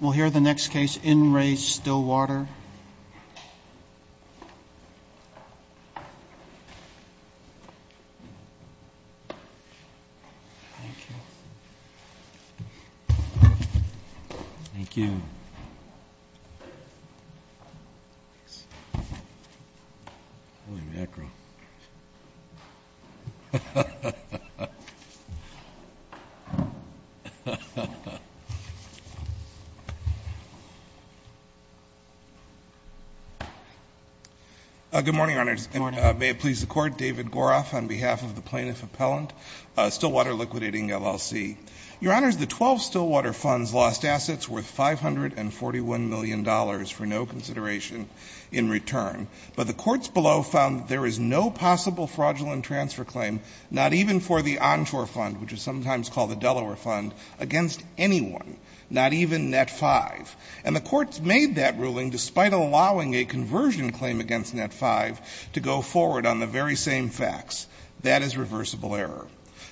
We'll hear the next case, In Re Stillwater. Good morning, Your Honors. May it please the Court, David Goroff on behalf of the Plaintiff Appellant, Stillwater Liquidating, LLC. Your Honors, the twelve Stillwater funds lost assets worth $541 million for no consideration in return, but the courts below found that there is no possible fraudulent transfer claim, not even for the Onshore Fund, which is sometimes called the Delaware Fund, against anyone, not even Net 5. And the courts made that ruling despite allowing a conversion claim against Net 5 to go forward on the very same facts. That is reversible error.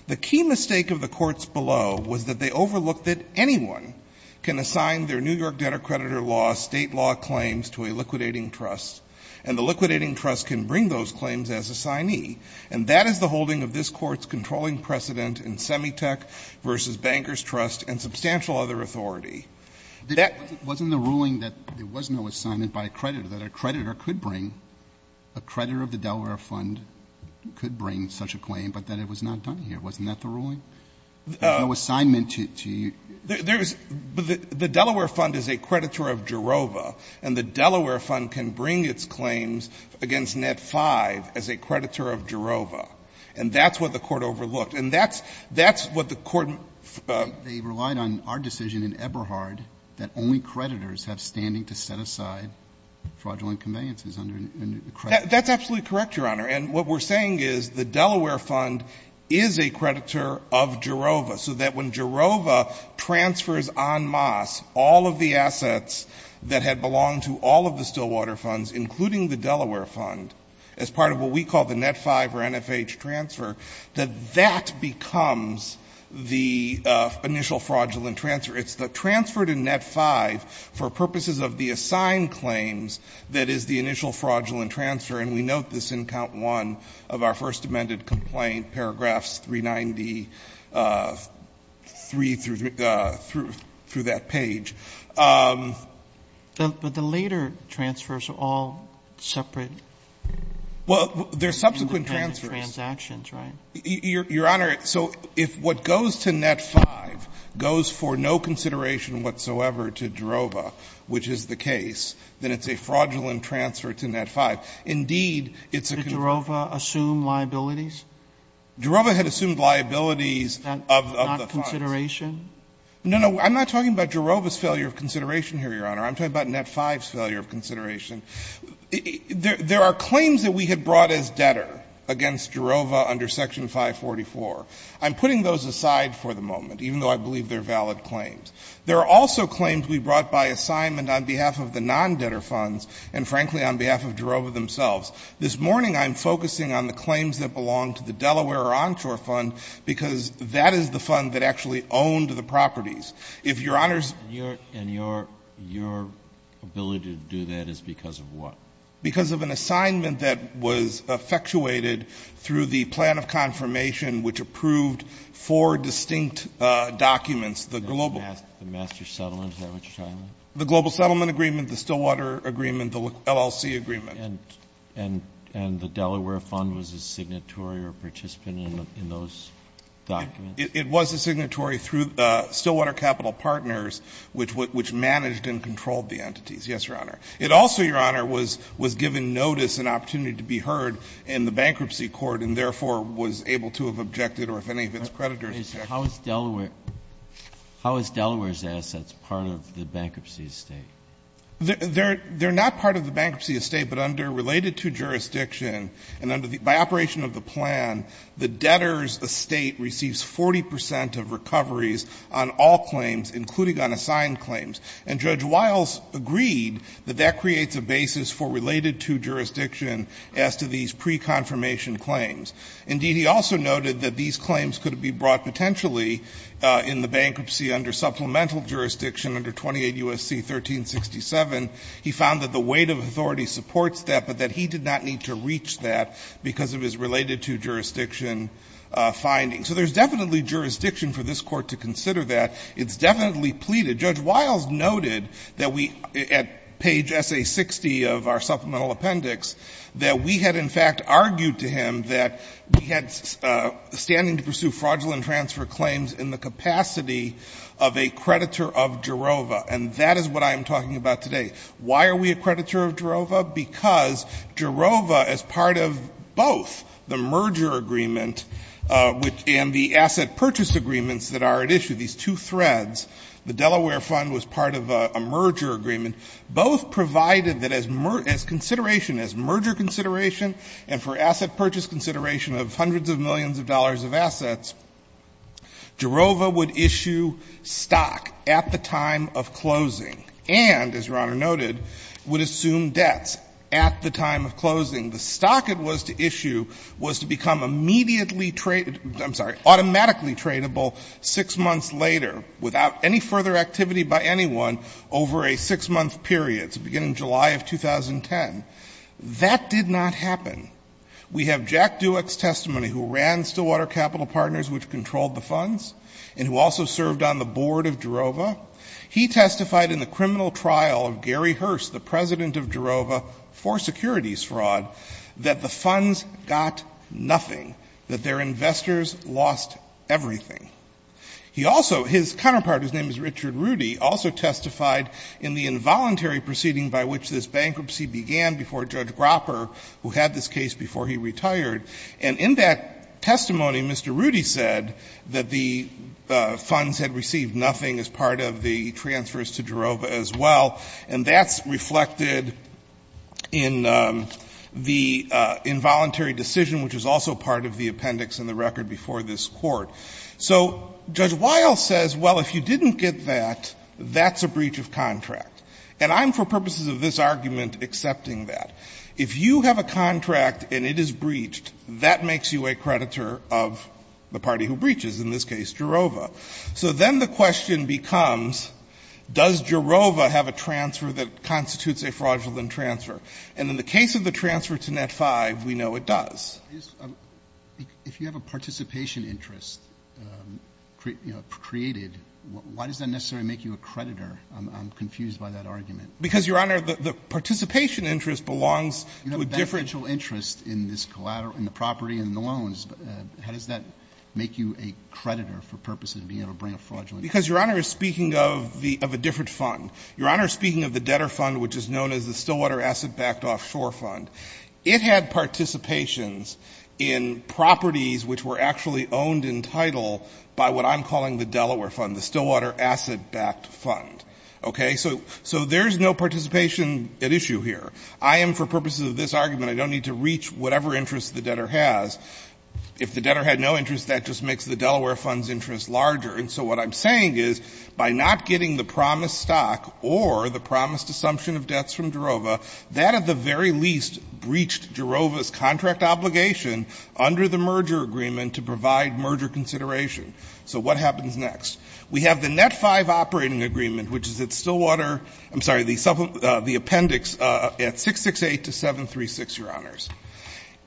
The key mistake of the courts below was that they overlooked that anyone can assign their New York debtor-creditor law, state law claims to a liquidating trust, and the liquidating trust can bring those claims as assignee. And that is the holding of this Court's controlling precedent in Semitech v. Bankers Trust and substantial other authority. Wasn't the ruling that there was no assignment by a creditor, that a creditor could bring — a creditor of the Delaware Fund could bring such a claim, but that it was not done here? Wasn't that the ruling? There's no assignment to you. The Delaware Fund is a creditor of Gerova, and the Delaware Fund can bring its claims against Net 5 as a creditor of Gerova. And that's what the Court overlooked. And that's — that's what the Court — They relied on our decision in Eberhard that only creditors have standing to set aside fraudulent conveyances under a creditor. That's absolutely correct, Your Honor. And what we're saying is the Delaware Fund is a creditor of Gerova, so that when Gerova transfers en masse all of the assets that had belonged to all of the Stillwater Funds, including the Delaware Fund, as part of what we call the Net 5 or NFH transfer, that that becomes the initial fraudulent transfer. It's the transfer to Net 5 for purposes of the assigned claims that is the initial fraudulent transfer. And we note this in Count 1 of our first amended complaint, paragraphs 393 through that page. But the later transfers are all separate. Well, they're subsequent transfers. Transactions, right? Your Honor, so if what goes to Net 5 goes for no consideration whatsoever to Gerova, which is the case, then it's a fraudulent transfer to Net 5. Indeed, it's a — Did Gerova assume liabilities? Gerova had assumed liabilities of the funds. Not consideration? No, no. I'm not talking about Gerova's failure of consideration here, Your Honor. I'm talking about Net 5's failure of consideration. There are claims that we had brought as debtor against Gerova under Section 544. I'm putting those aside for the moment, even though I believe they're valid claims. There are also claims we brought by assignment on behalf of the non-debtor funds and, frankly, on behalf of Gerova themselves. This morning, I'm focusing on the claims that belong to the Delaware or Onshore fund because that is the fund that actually owned the properties. If Your Honor's — And your ability to do that is because of what? Because of an assignment that was effectuated through the plan of confirmation which approved four distinct documents, the global — The master settlement, is that what you're talking about? The global settlement agreement, the Stillwater agreement, the LLC agreement. And the Delaware fund was a signatory or participant in those documents? It was a signatory through Stillwater Capital Partners, which managed and controlled the entities. Yes, Your Honor. It also, Your Honor, was given notice and opportunity to be heard in the bankruptcy court and, therefore, was able to have objected or, if any of its creditors objected. How is Delaware's assets part of the bankruptcy estate? They're not part of the bankruptcy estate, but under related to jurisdiction and by operation of the plan, the debtor's estate receives 40 percent of recoveries on all claims, including on assigned claims. And Judge Wiles agreed that that creates a basis for related to jurisdiction as to these pre-confirmation claims. Indeed, he also noted that these claims could be brought potentially in the bankruptcy under supplemental jurisdiction under 28 U.S.C. 1367. He found that the weight of authority supports that, but that he did not need to reach that because of his related to jurisdiction findings. So there's definitely jurisdiction for this Court to consider that. It's definitely pleaded. Judge Wiles noted that we, at page SA60 of our supplemental appendix, that we had, in fact, argued to him that we had standing to pursue fraudulent transfer claims in the capacity of a creditor of Gerova, and that is what I am talking about today. Why are we a creditor of Gerova? Because Gerova, as part of both the merger agreement and the asset purchase agreements that are at issue, these two threads, the Delaware fund was part of a merger agreement, both provided that as consideration, as merger consideration, Gerova would issue stock at the time of closing and, as Your Honor noted, would assume debts at the time of closing. The stock it was to issue was to become immediately traded, I'm sorry, automatically tradable six months later without any further activity by anyone over a six-month period. It's the beginning of July of 2010. That did not happen. We have Jack Dueck's testimony who ran Stillwater Capital Partners, which controlled the funds, and who also served on the board of Gerova. He testified in the criminal trial of Gary Hurst, the president of Gerova, for securities fraud, that the funds got nothing, that their investors lost everything. He also, his counterpart, whose name is Richard Rudy, also testified in the involuntary proceeding by which this bankruptcy began before Judge Gropper, who had this case before he retired. And in that testimony, Mr. Rudy said that the funds had received nothing as part of the transfers to Gerova as well. And that's reflected in the involuntary decision, which is also part of the appendix in the record before this Court. So Judge Weill says, well, if you didn't get that, that's a breach of contract. And I'm, for purposes of this argument, accepting that. If you have a contract and it is breached, that makes you a creditor of the party who breaches, in this case, Gerova. So then the question becomes, does Gerova have a transfer that constitutes a fraudulent transfer? And in the case of the transfer to Net-5, we know it does. If you have a participation interest created, why does that necessarily make you a creditor? I'm confused by that argument. Because, Your Honor, the participation interest belongs to a different... You have a beneficial interest in the property and the loans. How does that make you a creditor, for purposes of being able to bring a fraudulent transfer? Because, Your Honor, speaking of a different fund, Your Honor, speaking of the debtor fund, which is known as the Stillwater Asset Backed Offshore Fund, it had participations in properties which were actually owned in title by what I'm calling the Delaware Fund, the Stillwater Asset Backed Fund. Okay? So there's no participation at issue here. I am, for purposes of this argument, I don't need to reach whatever interest the debtor has. If the debtor had no interest, that just makes the Delaware Fund's interest larger. And so what I'm saying is, by not getting the promised stock or the promised assumption of debts from Gerova, that, at the very least, breached Gerova's contract obligation under the merger agreement to provide merger consideration. So what happens next? We have the Net 5 Operating Agreement, which is at Stillwater, I'm sorry, the appendix at 668-736, Your Honors.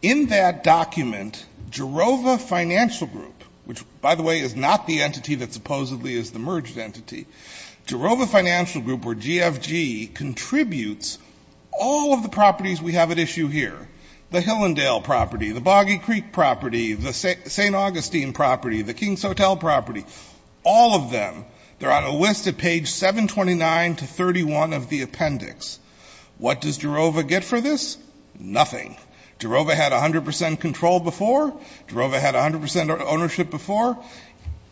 In that document, Gerova Financial Group, which, by the way, is not the entity that supposedly is the merged entity, Gerova Financial Group, or GFG, contributes all of the properties we have at issue here, the Hillendale property, the Boggy Creek property, the St. Augustine property, the King's Hotel property, all of them, they're on a list at page 729-31 of the appendix. What does Gerova get for this? Nothing. Gerova had 100 percent control before. Gerova had 100 percent ownership before.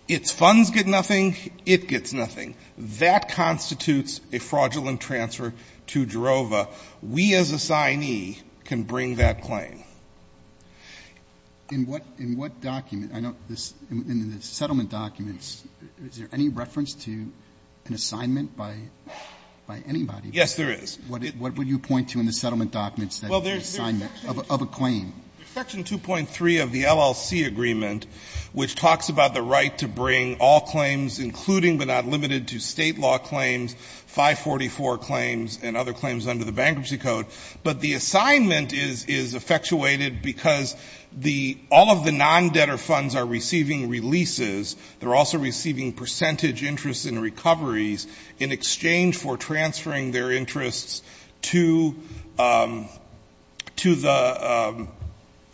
Its funds get nothing. It gets nothing. That constitutes a fraudulent transfer to Gerova. We, as assignee, can bring that claim. In what document, in the settlement documents, is there any reference to an assignment by anybody? Yes, there is. What would you point to in the settlement documents of a claim? Section 2.3 of the LLC agreement, which talks about the right to bring all claims, including but not limited to State law claims, 544 claims, and other claims under the Bankruptcy Code, but the assignment is effectuated because all of the non-debtor funds are receiving releases. They're also receiving percentage interest in recoveries in exchange for transferring their interests to the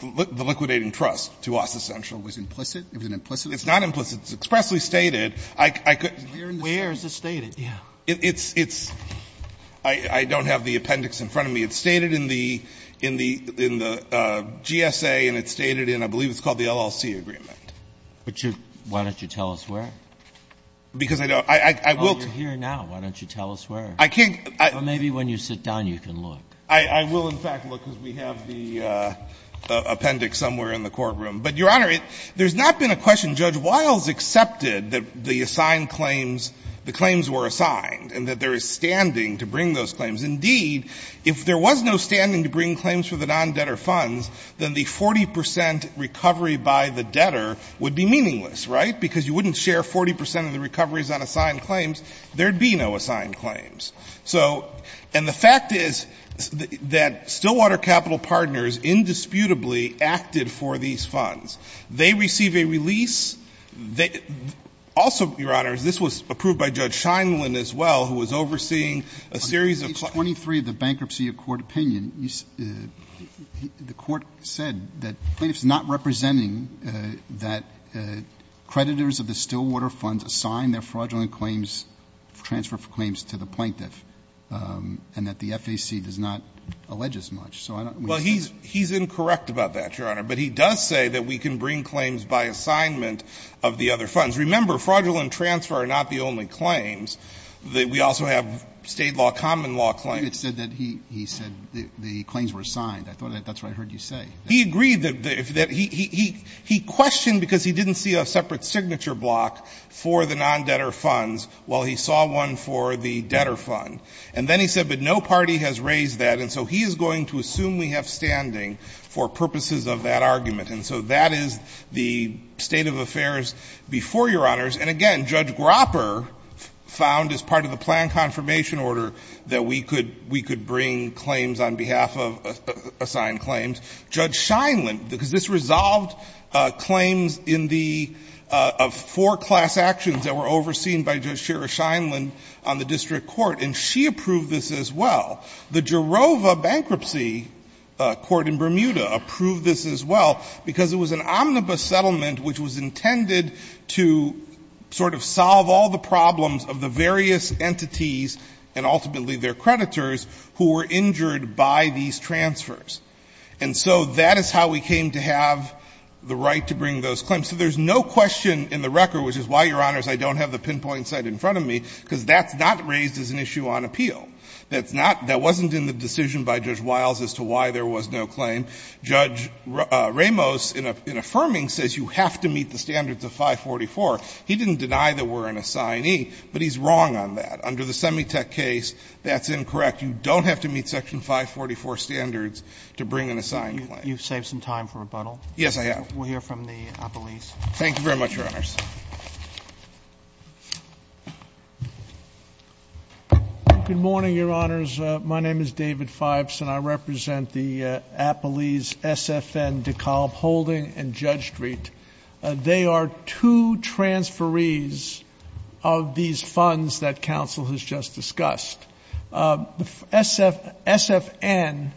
liquidating trust, to AUSA Central. Was it implicit? It was implicit? It's not implicit. It's expressly stated. Where is it stated? I don't have the appendix in front of me. It's stated in the GSA, and it's stated in, I believe, it's called the LLC agreement. But why don't you tell us where? Because I don't. You're here now. Why don't you tell us where? I can't. Maybe when you sit down, you can look. I will, in fact, look, because we have the appendix somewhere in the courtroom. But, Your Honor, there's not been a question. When Judge Wiles accepted that the assigned claims, the claims were assigned, and that there is standing to bring those claims, indeed, if there was no standing to bring claims for the non-debtor funds, then the 40% recovery by the debtor would be meaningless, right? Because you wouldn't share 40% of the recoveries on assigned claims. There'd be no assigned claims. So, and the fact is that Stillwater Capital Partners indisputably acted for these funds. They receive a release. Also, Your Honor, this was approved by Judge Scheindlin as well, who was overseeing a series of claims. On page 23 of the Bankruptcy of Court Opinion, the court said that plaintiff's not representing that creditors of the Stillwater funds assign their fraudulent claims, transfer claims to the plaintiff, and that the FAC does not allege as much. So I don't understand. Well, he's incorrect about that, Your Honor. But he does say that we can bring claims by assignment of the other funds. Remember, fraudulent transfer are not the only claims. We also have state law, common law claims. He said that he said the claims were assigned. I thought that's what I heard you say. He agreed that he questioned because he didn't see a separate signature block for the non-debtor funds while he saw one for the debtor fund. And then he said, but no party has raised that, and so he is going to assume we have standing for purposes of that argument. And so that is the state of affairs before, Your Honors. And again, Judge Gropper found as part of the plan confirmation order that we could bring claims on behalf of assigned claims. Judge Scheinland, because this resolved claims in the four class actions that were overseen by Judge Shira Scheinland on the district court, and she approved this as well. The Jerova bankruptcy court in Bermuda approved this as well because it was an omnibus settlement which was intended to sort of solve all the problems of the various entities, and ultimately their creditors, who were injured by these transfers. And so that is how we came to have the right to bring those claims. So there's no question in the record, which is why, Your Honors, I don't have the pinpoint site in front of me, because that's not raised as an issue on appeal. That's not – that wasn't in the decision by Judge Wiles as to why there was no claim. Judge Ramos, in affirming, says you have to meet the standards of 544. He didn't deny that we're an assignee, but he's wrong on that. Under the Semitech case, that's incorrect. You don't have to meet Section 544 standards to bring an assigned claim. Roberts. You've saved some time for rebuttal. Yes, I have. We'll hear from the police. Thank you very much, Your Honors. Good morning, Your Honors. My name is David Phibes, and I represent the Appalese SFN DeKalb Holding and Judge Street. They are two transferees of these funds that counsel has just discussed. The SFN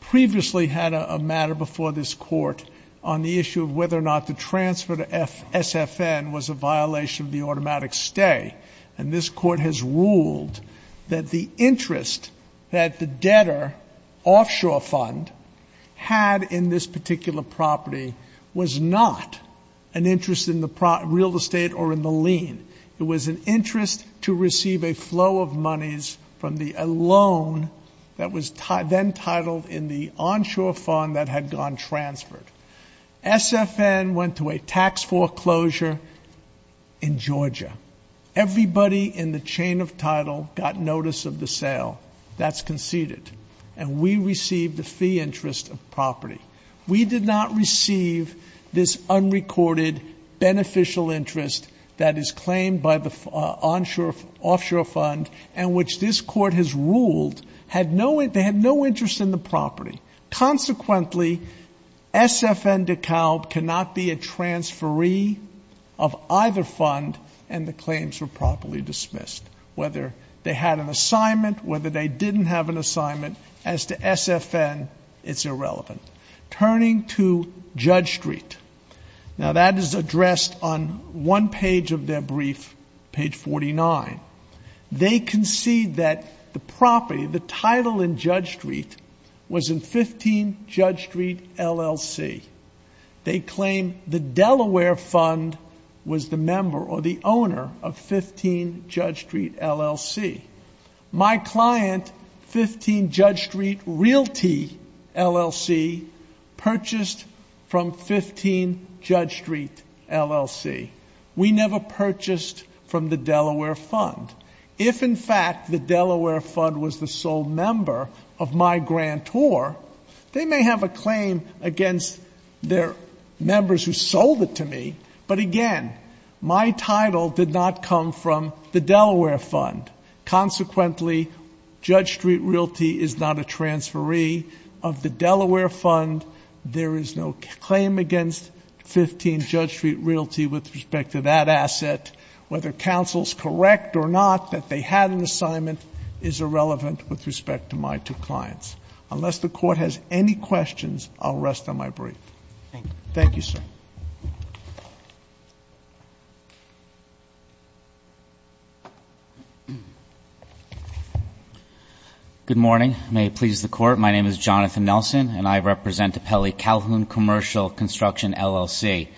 previously had a matter before this court on the issue of whether or not to transfer to SFN was a violation of the automatic stay. And this court has ruled that the interest that the debtor offshore fund had in this particular property was not an interest in the real estate or in the lien. It was an interest to receive a flow of monies from the loan that was then titled in the onshore fund that had gone transferred. SFN went to a tax foreclosure in Georgia. Everybody in the chain of title got notice of the sale. That's conceded. And we received a fee interest of property. We did not receive this unrecorded beneficial interest that is claimed by the offshore fund in the property. Consequently, SFN DeKalb cannot be a transferee of either fund, and the claims were properly dismissed. Whether they had an assignment, whether they didn't have an assignment, as to SFN, it's irrelevant. Turning to Judge Street. Now that is addressed on one page of their brief, page 49. They concede that the property, the title in Judge Street, was in 15 Judge Street LLC. They claim the Delaware Fund was the member or the owner of 15 Judge Street LLC. My client, 15 Judge Street Realty LLC, purchased from 15 Judge Street LLC. We never purchased from the Delaware Fund. If, in fact, the Delaware Fund was the sole member of my grantor, they may have a claim against their members who sold it to me. But again, my title did not come from the Delaware Fund. Consequently, Judge Street Realty is not a transferee of the Delaware Fund. There is no claim against 15 Judge Street Realty with respect to that asset. Whether counsel's correct or not that they had an assignment is irrelevant with respect to my two clients. Unless the Court has any questions, I'll rest on my brief. Thank you, sir. Good morning. May it please the Court. My name is Jonathan Nelson, and I represent the Pelley Calhoun Commercial Construction LLC.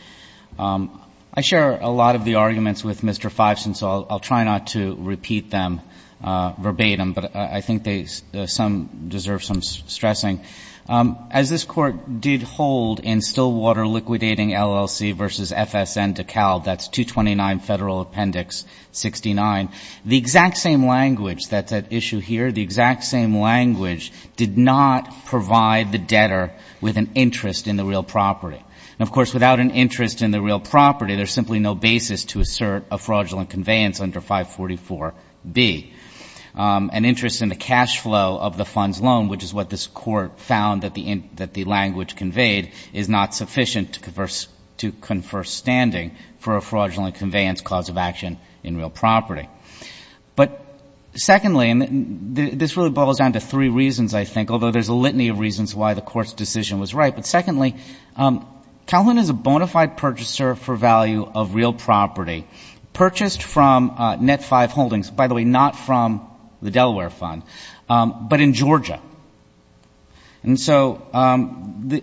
I share a lot of the arguments with Mr. Fiveson, so I'll try not to repeat them verbatim, but I think some deserve some stressing. As this Court did hold in Stillwater Liquidating LLC v. FSN DeKalb, that's 229 Federal Appendix 69, the exact same language that's at issue here, the exact same language did not provide the debtor with an interest in the real property. Of course, without an interest in the real property, there's simply no basis to assert a fraudulent conveyance under 544B. An interest in the cash flow of the fund's loan, which is what this Court found that the language conveyed, is not sufficient to confer standing for a fraudulent conveyance cause of action in real property. But secondly, and this really boils down to three reasons, I think, although there's a litany of reasons why the Court's decision was right, but secondly, Calhoun is a bona fide purchaser for value of real property, purchased from Net 5 Holdings, by the way, not from the Delaware Fund, but in Georgia. And so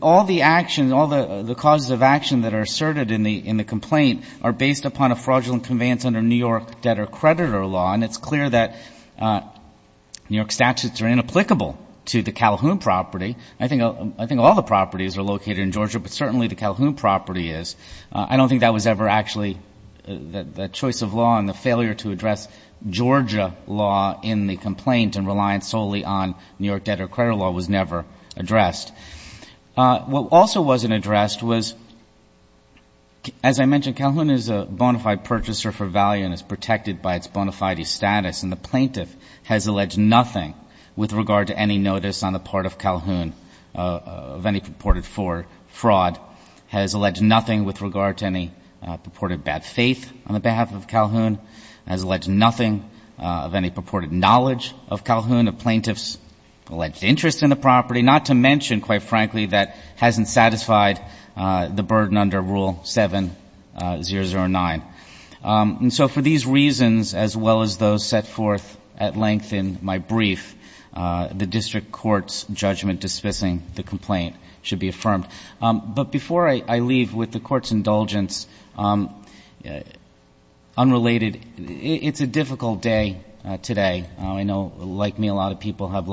all the causes of action that are asserted in the complaint are based upon a fraudulent conveyance under New York debtor-creditor law, and it's clear that New York statutes are inapplicable to the Calhoun property. I think all the properties are located in Georgia, but certainly the Calhoun property is. I don't think that was ever actually the choice of law, and the failure to address Georgia law in the complaint and reliance solely on New York debtor-creditor law was never addressed. What also wasn't addressed was, as I mentioned, Calhoun is a bona fide purchaser for value and is protected by its bona fide status, and the plaintiff has alleged nothing with regard to any notice on the part of Calhoun of any purported fraud, has alleged nothing with regard to any purported bad faith on the behalf of Calhoun, has alleged nothing of any purported knowledge of Calhoun, of plaintiff's alleged interest in the property, not to mention, quite frankly, that hasn't satisfied the burden under Rule 7009. And so for these reasons, as well as those set forth at length in my brief, the district court's judgment dismissing the complaint should be affirmed. But before I leave with the court's indulgence, unrelated, it's a difficult day today. I know, like me, a lot of people had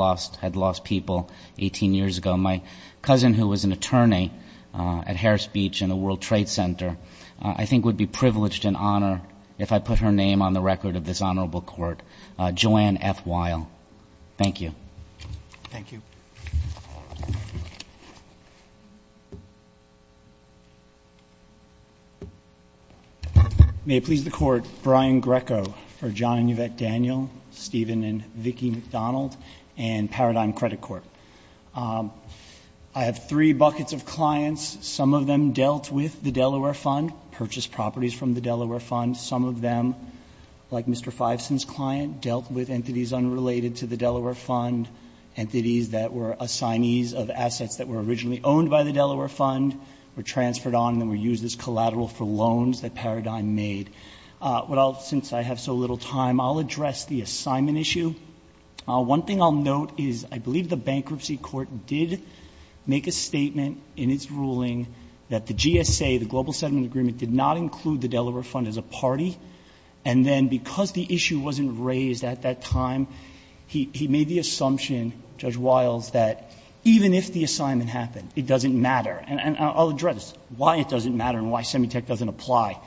lost people 18 years ago. My cousin, who was an attorney at Harris Beach and the World Trade Center, I think would be privileged and honored if I put her name on the record of this honorable court, Joanne F. Weil. Thank you. Thank you. May it please the Court, Brian Greco for John and Yvette Daniel, Stephen and Vicki McDonald, and Paradigm Credit Court. I have three buckets of clients. Some of them dealt with the Delaware Fund, purchased properties from the Delaware Fund. Some of them, like Mr. Fiveson's client, dealt with entities unrelated to the Delaware Fund, entities that were assignees of assets that were originally owned by the Delaware Fund, were transferred on and were used as collateral for loans that Paradigm made. Since I have so little time, I'll address the assignment issue. One thing I'll note is I believe the bankruptcy court did make a statement in its ruling that the GSA, the Global Settlement Agreement, did not include the Delaware Fund as a party. And then because the issue wasn't raised at that time, he made the assumption, Judge Weils, that even if the assignment happened, it doesn't matter. And I'll address why it doesn't matter and why Semitech doesn't apply.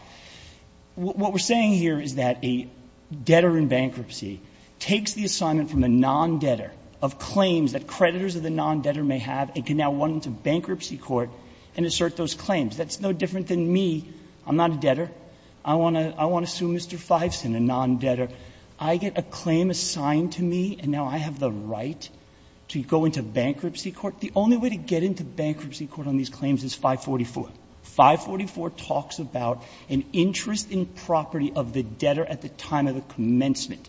What we're saying here is that a debtor in bankruptcy takes the assignment from a non-debtor of claims that creditors of the non-debtor may have and can now run to bankruptcy court and assert those claims. That's no different than me. I'm not a debtor. I want to sue Mr. Fiveson, a non-debtor. I get a claim assigned to me and now I have the right to go into bankruptcy court. The only way to get into bankruptcy court on these claims is 544. 544 talks about an interest in property of the debtor at the time of the commencement.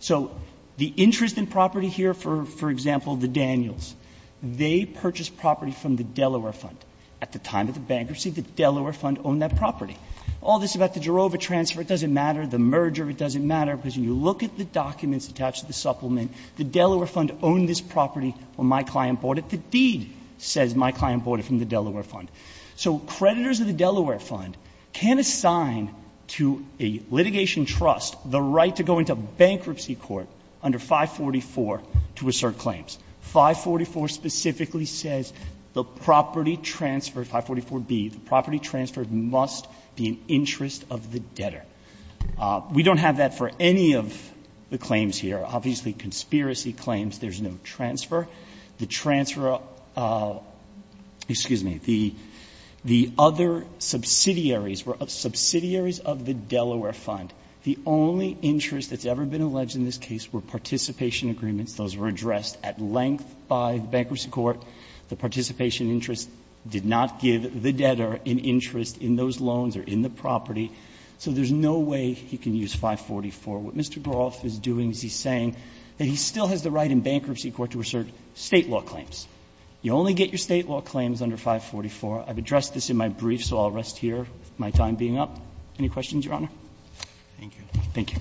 So the interest in property here, for example, the Daniels, they purchased property from the Delaware Fund at the time of the bankruptcy. The Delaware Fund owned that property. All this about the Gerova transfer, it doesn't matter. The merger, it doesn't matter. Because when you look at the documents attached to the supplement, the Delaware Fund owned this property when my client bought it. The deed says my client bought it from the Delaware Fund. So creditors of the Delaware Fund can assign to a litigation trust the right to go into bankruptcy court under 544 to assert claims. 544 specifically says the property transfer, 544B, the property transfer must be an interest of the debtor. We don't have that for any of the claims here. Obviously, conspiracy claims, there's no transfer. The transfer of the other subsidiaries were subsidiaries of the Delaware Fund. The only interest that's ever been alleged in this case were participation agreements. Those were addressed at length by the bankruptcy court. The participation interest did not give the debtor an interest in those loans or in the property. So there's no way he can use 544. What Mr. Groff is doing is he's saying that he still has the right in bankruptcy court to assert State law claims. You only get your State law claims under 544. I've addressed this in my brief, so I'll rest here with my time being up. Any questions, Your Honor? Thank you. Thank you.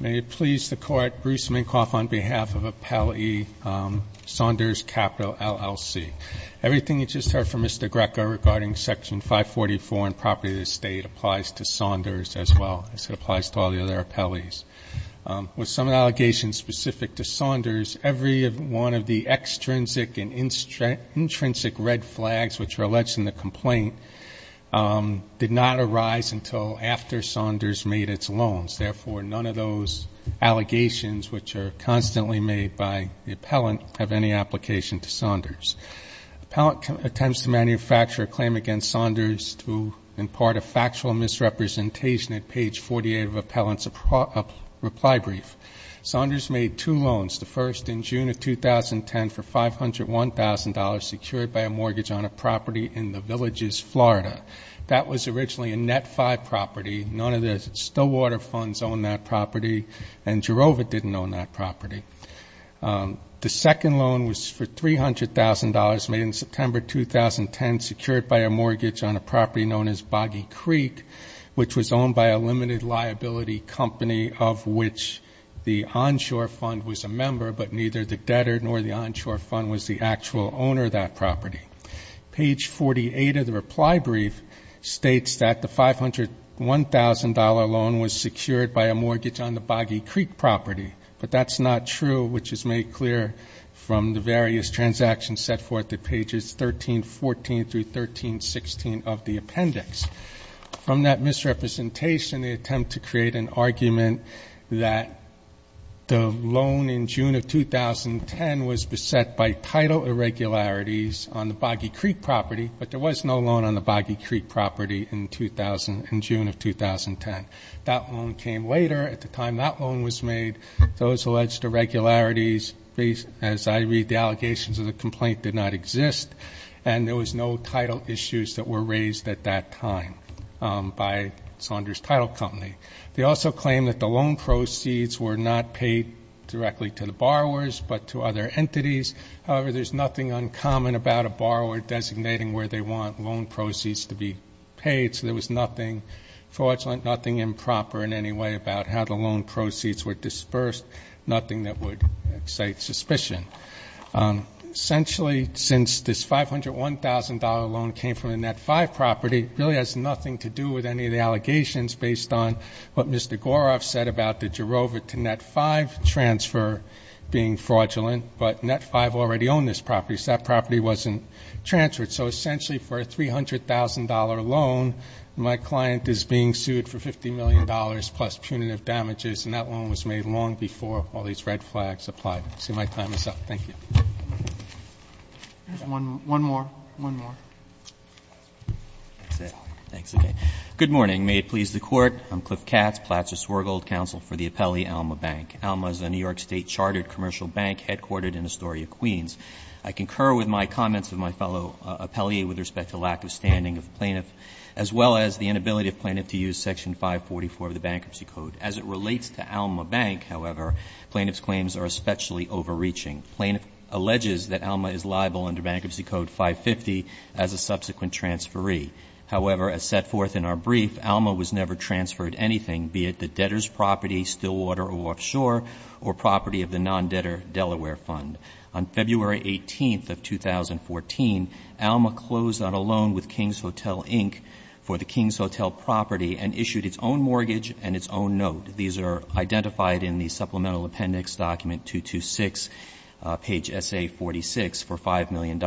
May it please the Court, Bruce Minkoff on behalf of Appellee Saunders, LLC. Everything you just heard from Mr. Greco regarding Section 544 and property of the State applies to Saunders as well as it applies to all the other appellees. With some allegations specific to Saunders, every one of the extrinsic and intrinsic red flags, which are alleged in the complaint, did not arise until after Saunders made its loans. Therefore, none of those allegations, which are constantly made by the appellant, have any application to Saunders. Appellant attempts to manufacture a claim against Saunders to impart a factual misrepresentation at page 48 of Appellant's reply brief. Saunders made two loans, the first in June of 2010 for $501,000 secured by a mortgage on a property in the Villages, Florida. That was originally a Net-5 property. None of the Stillwater funds owned that property, and Jerova didn't own that property. The second loan was for $300,000 made in September 2010 secured by a mortgage on a property known as Boggy Creek, which was owned by a limited liability company of which the onshore fund was a member, but neither the debtor nor the onshore fund was the actual owner of that property. Page 48 of the reply brief states that the $501,000 loan was secured by a mortgage on the Boggy Creek property, but that's not true, which is made clear from the various transactions set forth at pages 13, 14 through 13, 16 of the appendix. From that misrepresentation, they attempt to create an argument that the loan in June of 2010 was beset by title irregularities on the Boggy Creek property, but there was no loan on the Boggy Creek property in June of 2010. That loan came later. At the time that loan was made, those alleged irregularities, as I read the allegations of the complaint, did not exist, and there was no title issues that were raised at that time by Saunders Title Company. They also claim that the loan proceeds were not paid directly to the borrowers but to other entities. However, there's nothing uncommon about a borrower designating where they want loan proceeds to be paid, so there was nothing fraudulent, nothing improper in any way about how the loan proceeds were dispersed, nothing that would excite suspicion. Essentially, since this $501,000 loan came from a Net-5 property, it really has nothing to do with any of the allegations based on what Mr. Goroff said about the Jirova to Net-5 transfer being fraudulent, but Net-5 already owned this property, so that property wasn't transferred. So essentially, for a $300,000 loan, my client is being sued for $50 million plus punitive damages, and that loan was made long before all these red flags applied. I see my time is up. Thank you. One more. One more. That's it. Thanks. Okay. Good morning. May it please the Court. I'm Cliff Katz, Placer-Swergold Counsel for the appellee Alma Bank. Alma is a New York State chartered commercial bank headquartered in Astoria, Queens. I concur with my comments of my fellow appellee with respect to lack of standing of the plaintiff as well as the inability of the plaintiff to use Section 544 of the Bankruptcy Code. As it relates to Alma Bank, however, plaintiff's claims are especially overreaching. The plaintiff alleges that Alma is liable under Bankruptcy Code 550 as a subsequent transferee. However, as set forth in our brief, Alma was never transferred anything, be it the debtor's property, still water or offshore, or property of the non-debtor Delaware Fund. On February 18th of 2014, Alma closed on a loan with King's Hotel, Inc. for the King's Hotel property and issued its own mortgage and its own note. These are identified in the Supplemental Appendix Document 226, page SA46, for $5 million.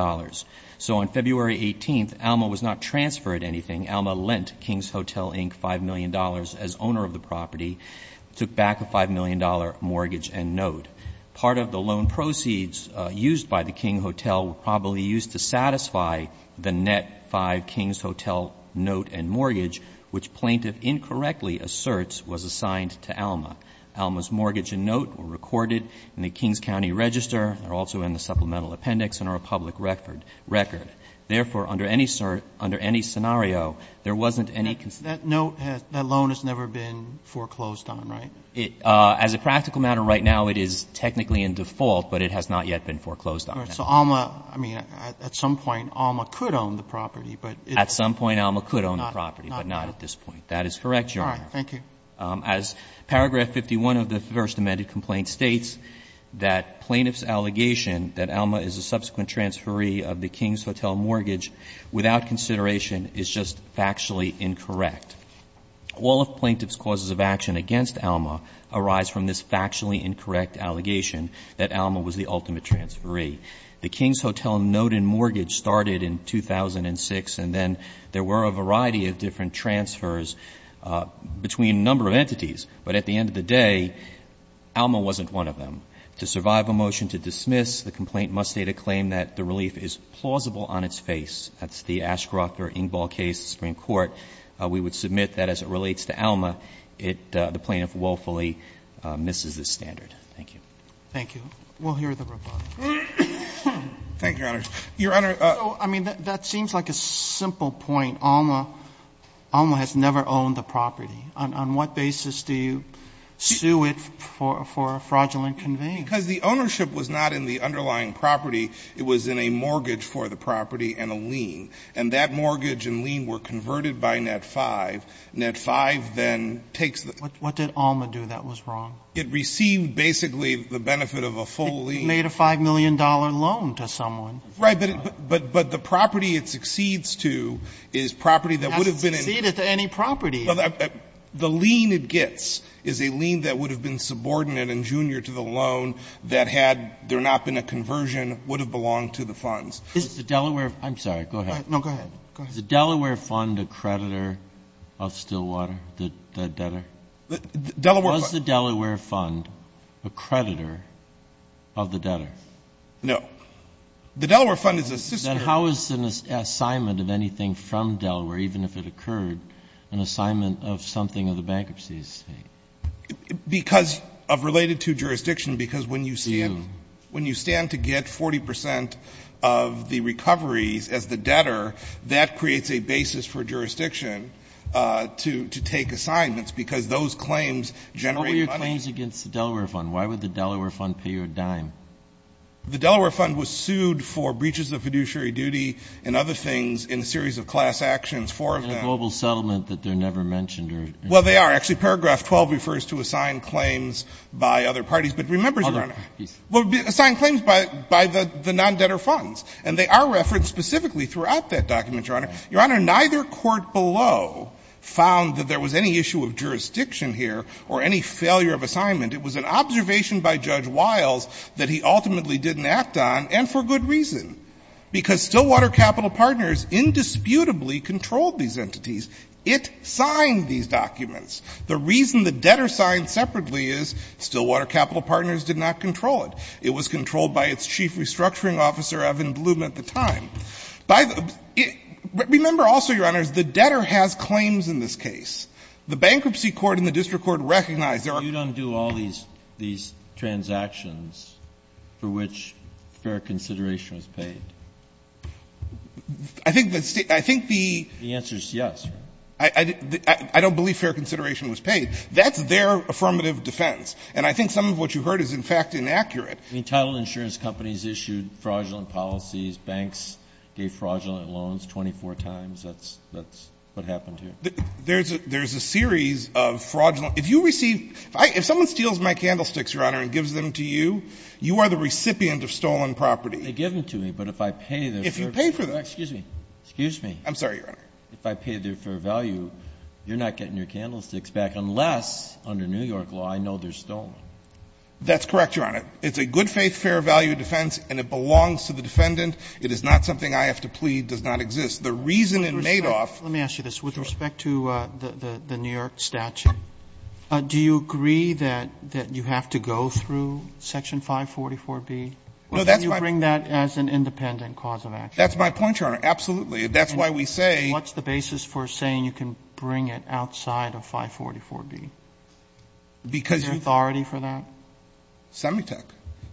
So on February 18th, Alma was not transferred anything. Alma lent King's Hotel, Inc. $5 million as owner of the property, took back a $5 million mortgage and note. Part of the loan proceeds used by the King Hotel were probably used to satisfy the net five King's Hotel note and mortgage, which plaintiff incorrectly asserts was assigned to Alma. Alma's mortgage and note were recorded in the King's County Register. They're also in the Supplemental Appendix and are a public record. Therefore, under any scenario, there wasn't any concern. That note, that loan has never been foreclosed on, right? As a practical matter, right now it is technically in default, but it has not yet been foreclosed on. So Alma, I mean, at some point Alma could own the property, but it's not. At some point Alma could own the property, but not at this point. That is correct, Your Honor. All right. Thank you. As paragraph 51 of the first amended complaint states, that plaintiff's allegation that Alma is a subsequent transferee of the King's Hotel mortgage, without consideration, is just factually incorrect. All of plaintiff's causes of action against Alma arise from this factually incorrect allegation that Alma was the ultimate transferee. The King's Hotel note and mortgage started in 2006, and then there were a variety of different transfers between a number of entities. But at the end of the day, Alma wasn't one of them. To survive a motion to dismiss, the complaint must state a claim that the relief is plausible on its face. That's the Ashcroft or Ingball case in the Supreme Court. We would submit that as it relates to Alma, the plaintiff willfully misses this standard. Thank you. Thank you. We'll hear the reply. Thank you, Your Honor. Your Honor, I mean, that seems like a simple point. Alma has never owned the property. On what basis do you sue it for a fraudulent conveyance? Because the ownership was not in the underlying property. It was in a mortgage for the property and a lien. And that mortgage and lien were converted by Net-5. Net-5 then takes the ---- What did Alma do that was wrong? It received basically the benefit of a full lien. It made a $5 million loan to someone. Right. But the property it succeeds to is property that would have been in ---- It hasn't succeeded to any property. The lien it gets is a lien that would have been subordinate and junior to the loan that had there not been a conversion would have belonged to the funds. Is the Delaware ---- I'm sorry. Go ahead. No, go ahead. Is the Delaware Fund a creditor of Stillwater, the debtor? The Delaware Fund ---- Was the Delaware Fund a creditor of the debtor? No. The Delaware Fund is a sister ---- Then how is an assignment of anything from Delaware, even if it occurred, an assignment of something of the bankruptcy estate? Because of related to jurisdiction because when you stand to get 40% of the recoveries as the debtor, that creates a basis for jurisdiction to take assignments because those claims generate money. What were your claims against the Delaware Fund? Why would the Delaware Fund pay you a dime? The Delaware Fund was sued for breaches of fiduciary duty and other things in a series of class actions. Four of them. In a global settlement that they're never mentioned or ---- Well, they are. Actually, paragraph 12 refers to assigned claims by other parties. But remember, Your Honor ---- Hold on. Please. Assigned claims by the non-debtor funds. And they are referenced specifically throughout that document, Your Honor. Your Honor, neither court below found that there was any issue of jurisdiction here or any failure of assignment. It was an observation by Judge Wiles that he ultimately didn't act on, and for good reason. Because Stillwater Capital Partners indisputably controlled these entities. It signed these documents. The reason the debtor signed separately is Stillwater Capital Partners did not control it. It was controlled by its chief restructuring officer, Evan Bloom, at the time. By the ---- Remember also, Your Honors, the debtor has claims in this case. The bankruptcy court and the district court recognize there are ---- Well, you don't do all these transactions for which fair consideration was paid. I think the State ---- I think the ---- The answer is yes, Your Honor. I don't believe fair consideration was paid. That's their affirmative defense. And I think some of what you heard is, in fact, inaccurate. Entitled insurance companies issued fraudulent policies. Banks gave fraudulent loans 24 times. That's what happened here. There's a series of fraudulent ---- If you receive ---- If someone steals my candlesticks, Your Honor, and gives them to you, you are the recipient of stolen property. They give them to me, but if I pay their fair ---- If you pay for them. Excuse me. I'm sorry, Your Honor. If I pay their fair value, you're not getting your candlesticks back unless, under New York law, I know they're stolen. That's correct, Your Honor. It's a good-faith, fair-value defense, and it belongs to the defendant. It is not something I have to plead does not exist. The reason in Madoff ---- Let me ask you this. With respect to the New York statute, do you agree that you have to go through Section 544B? No, that's my point. Or do you bring that as an independent cause of action? That's my point, Your Honor. Absolutely. That's why we say ---- What's the basis for saying you can bring it outside of 544B? Because you ---- Is there authority for that? Semitech.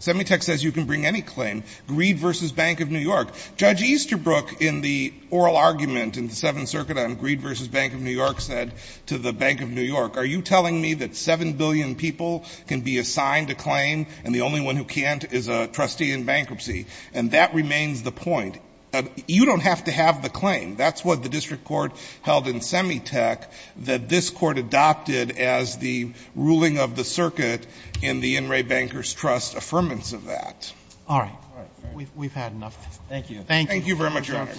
Semitech says you can bring any claim. Greed v. Bank of New York. Judge Easterbrook in the oral argument in the Seventh Circuit on Greed v. Bank of New York said to the Bank of New York, are you telling me that 7 billion people can be assigned a claim and the only one who can't is a trustee in bankruptcy? And that remains the point. You don't have to have the claim. That's what the district court held in Semitech that this Court adopted as the ruling of the circuit in the In re Bankers Trust affirmance of that. All right. We've had enough of this. Thank you. Thank you. Thank you very much, Your Honor.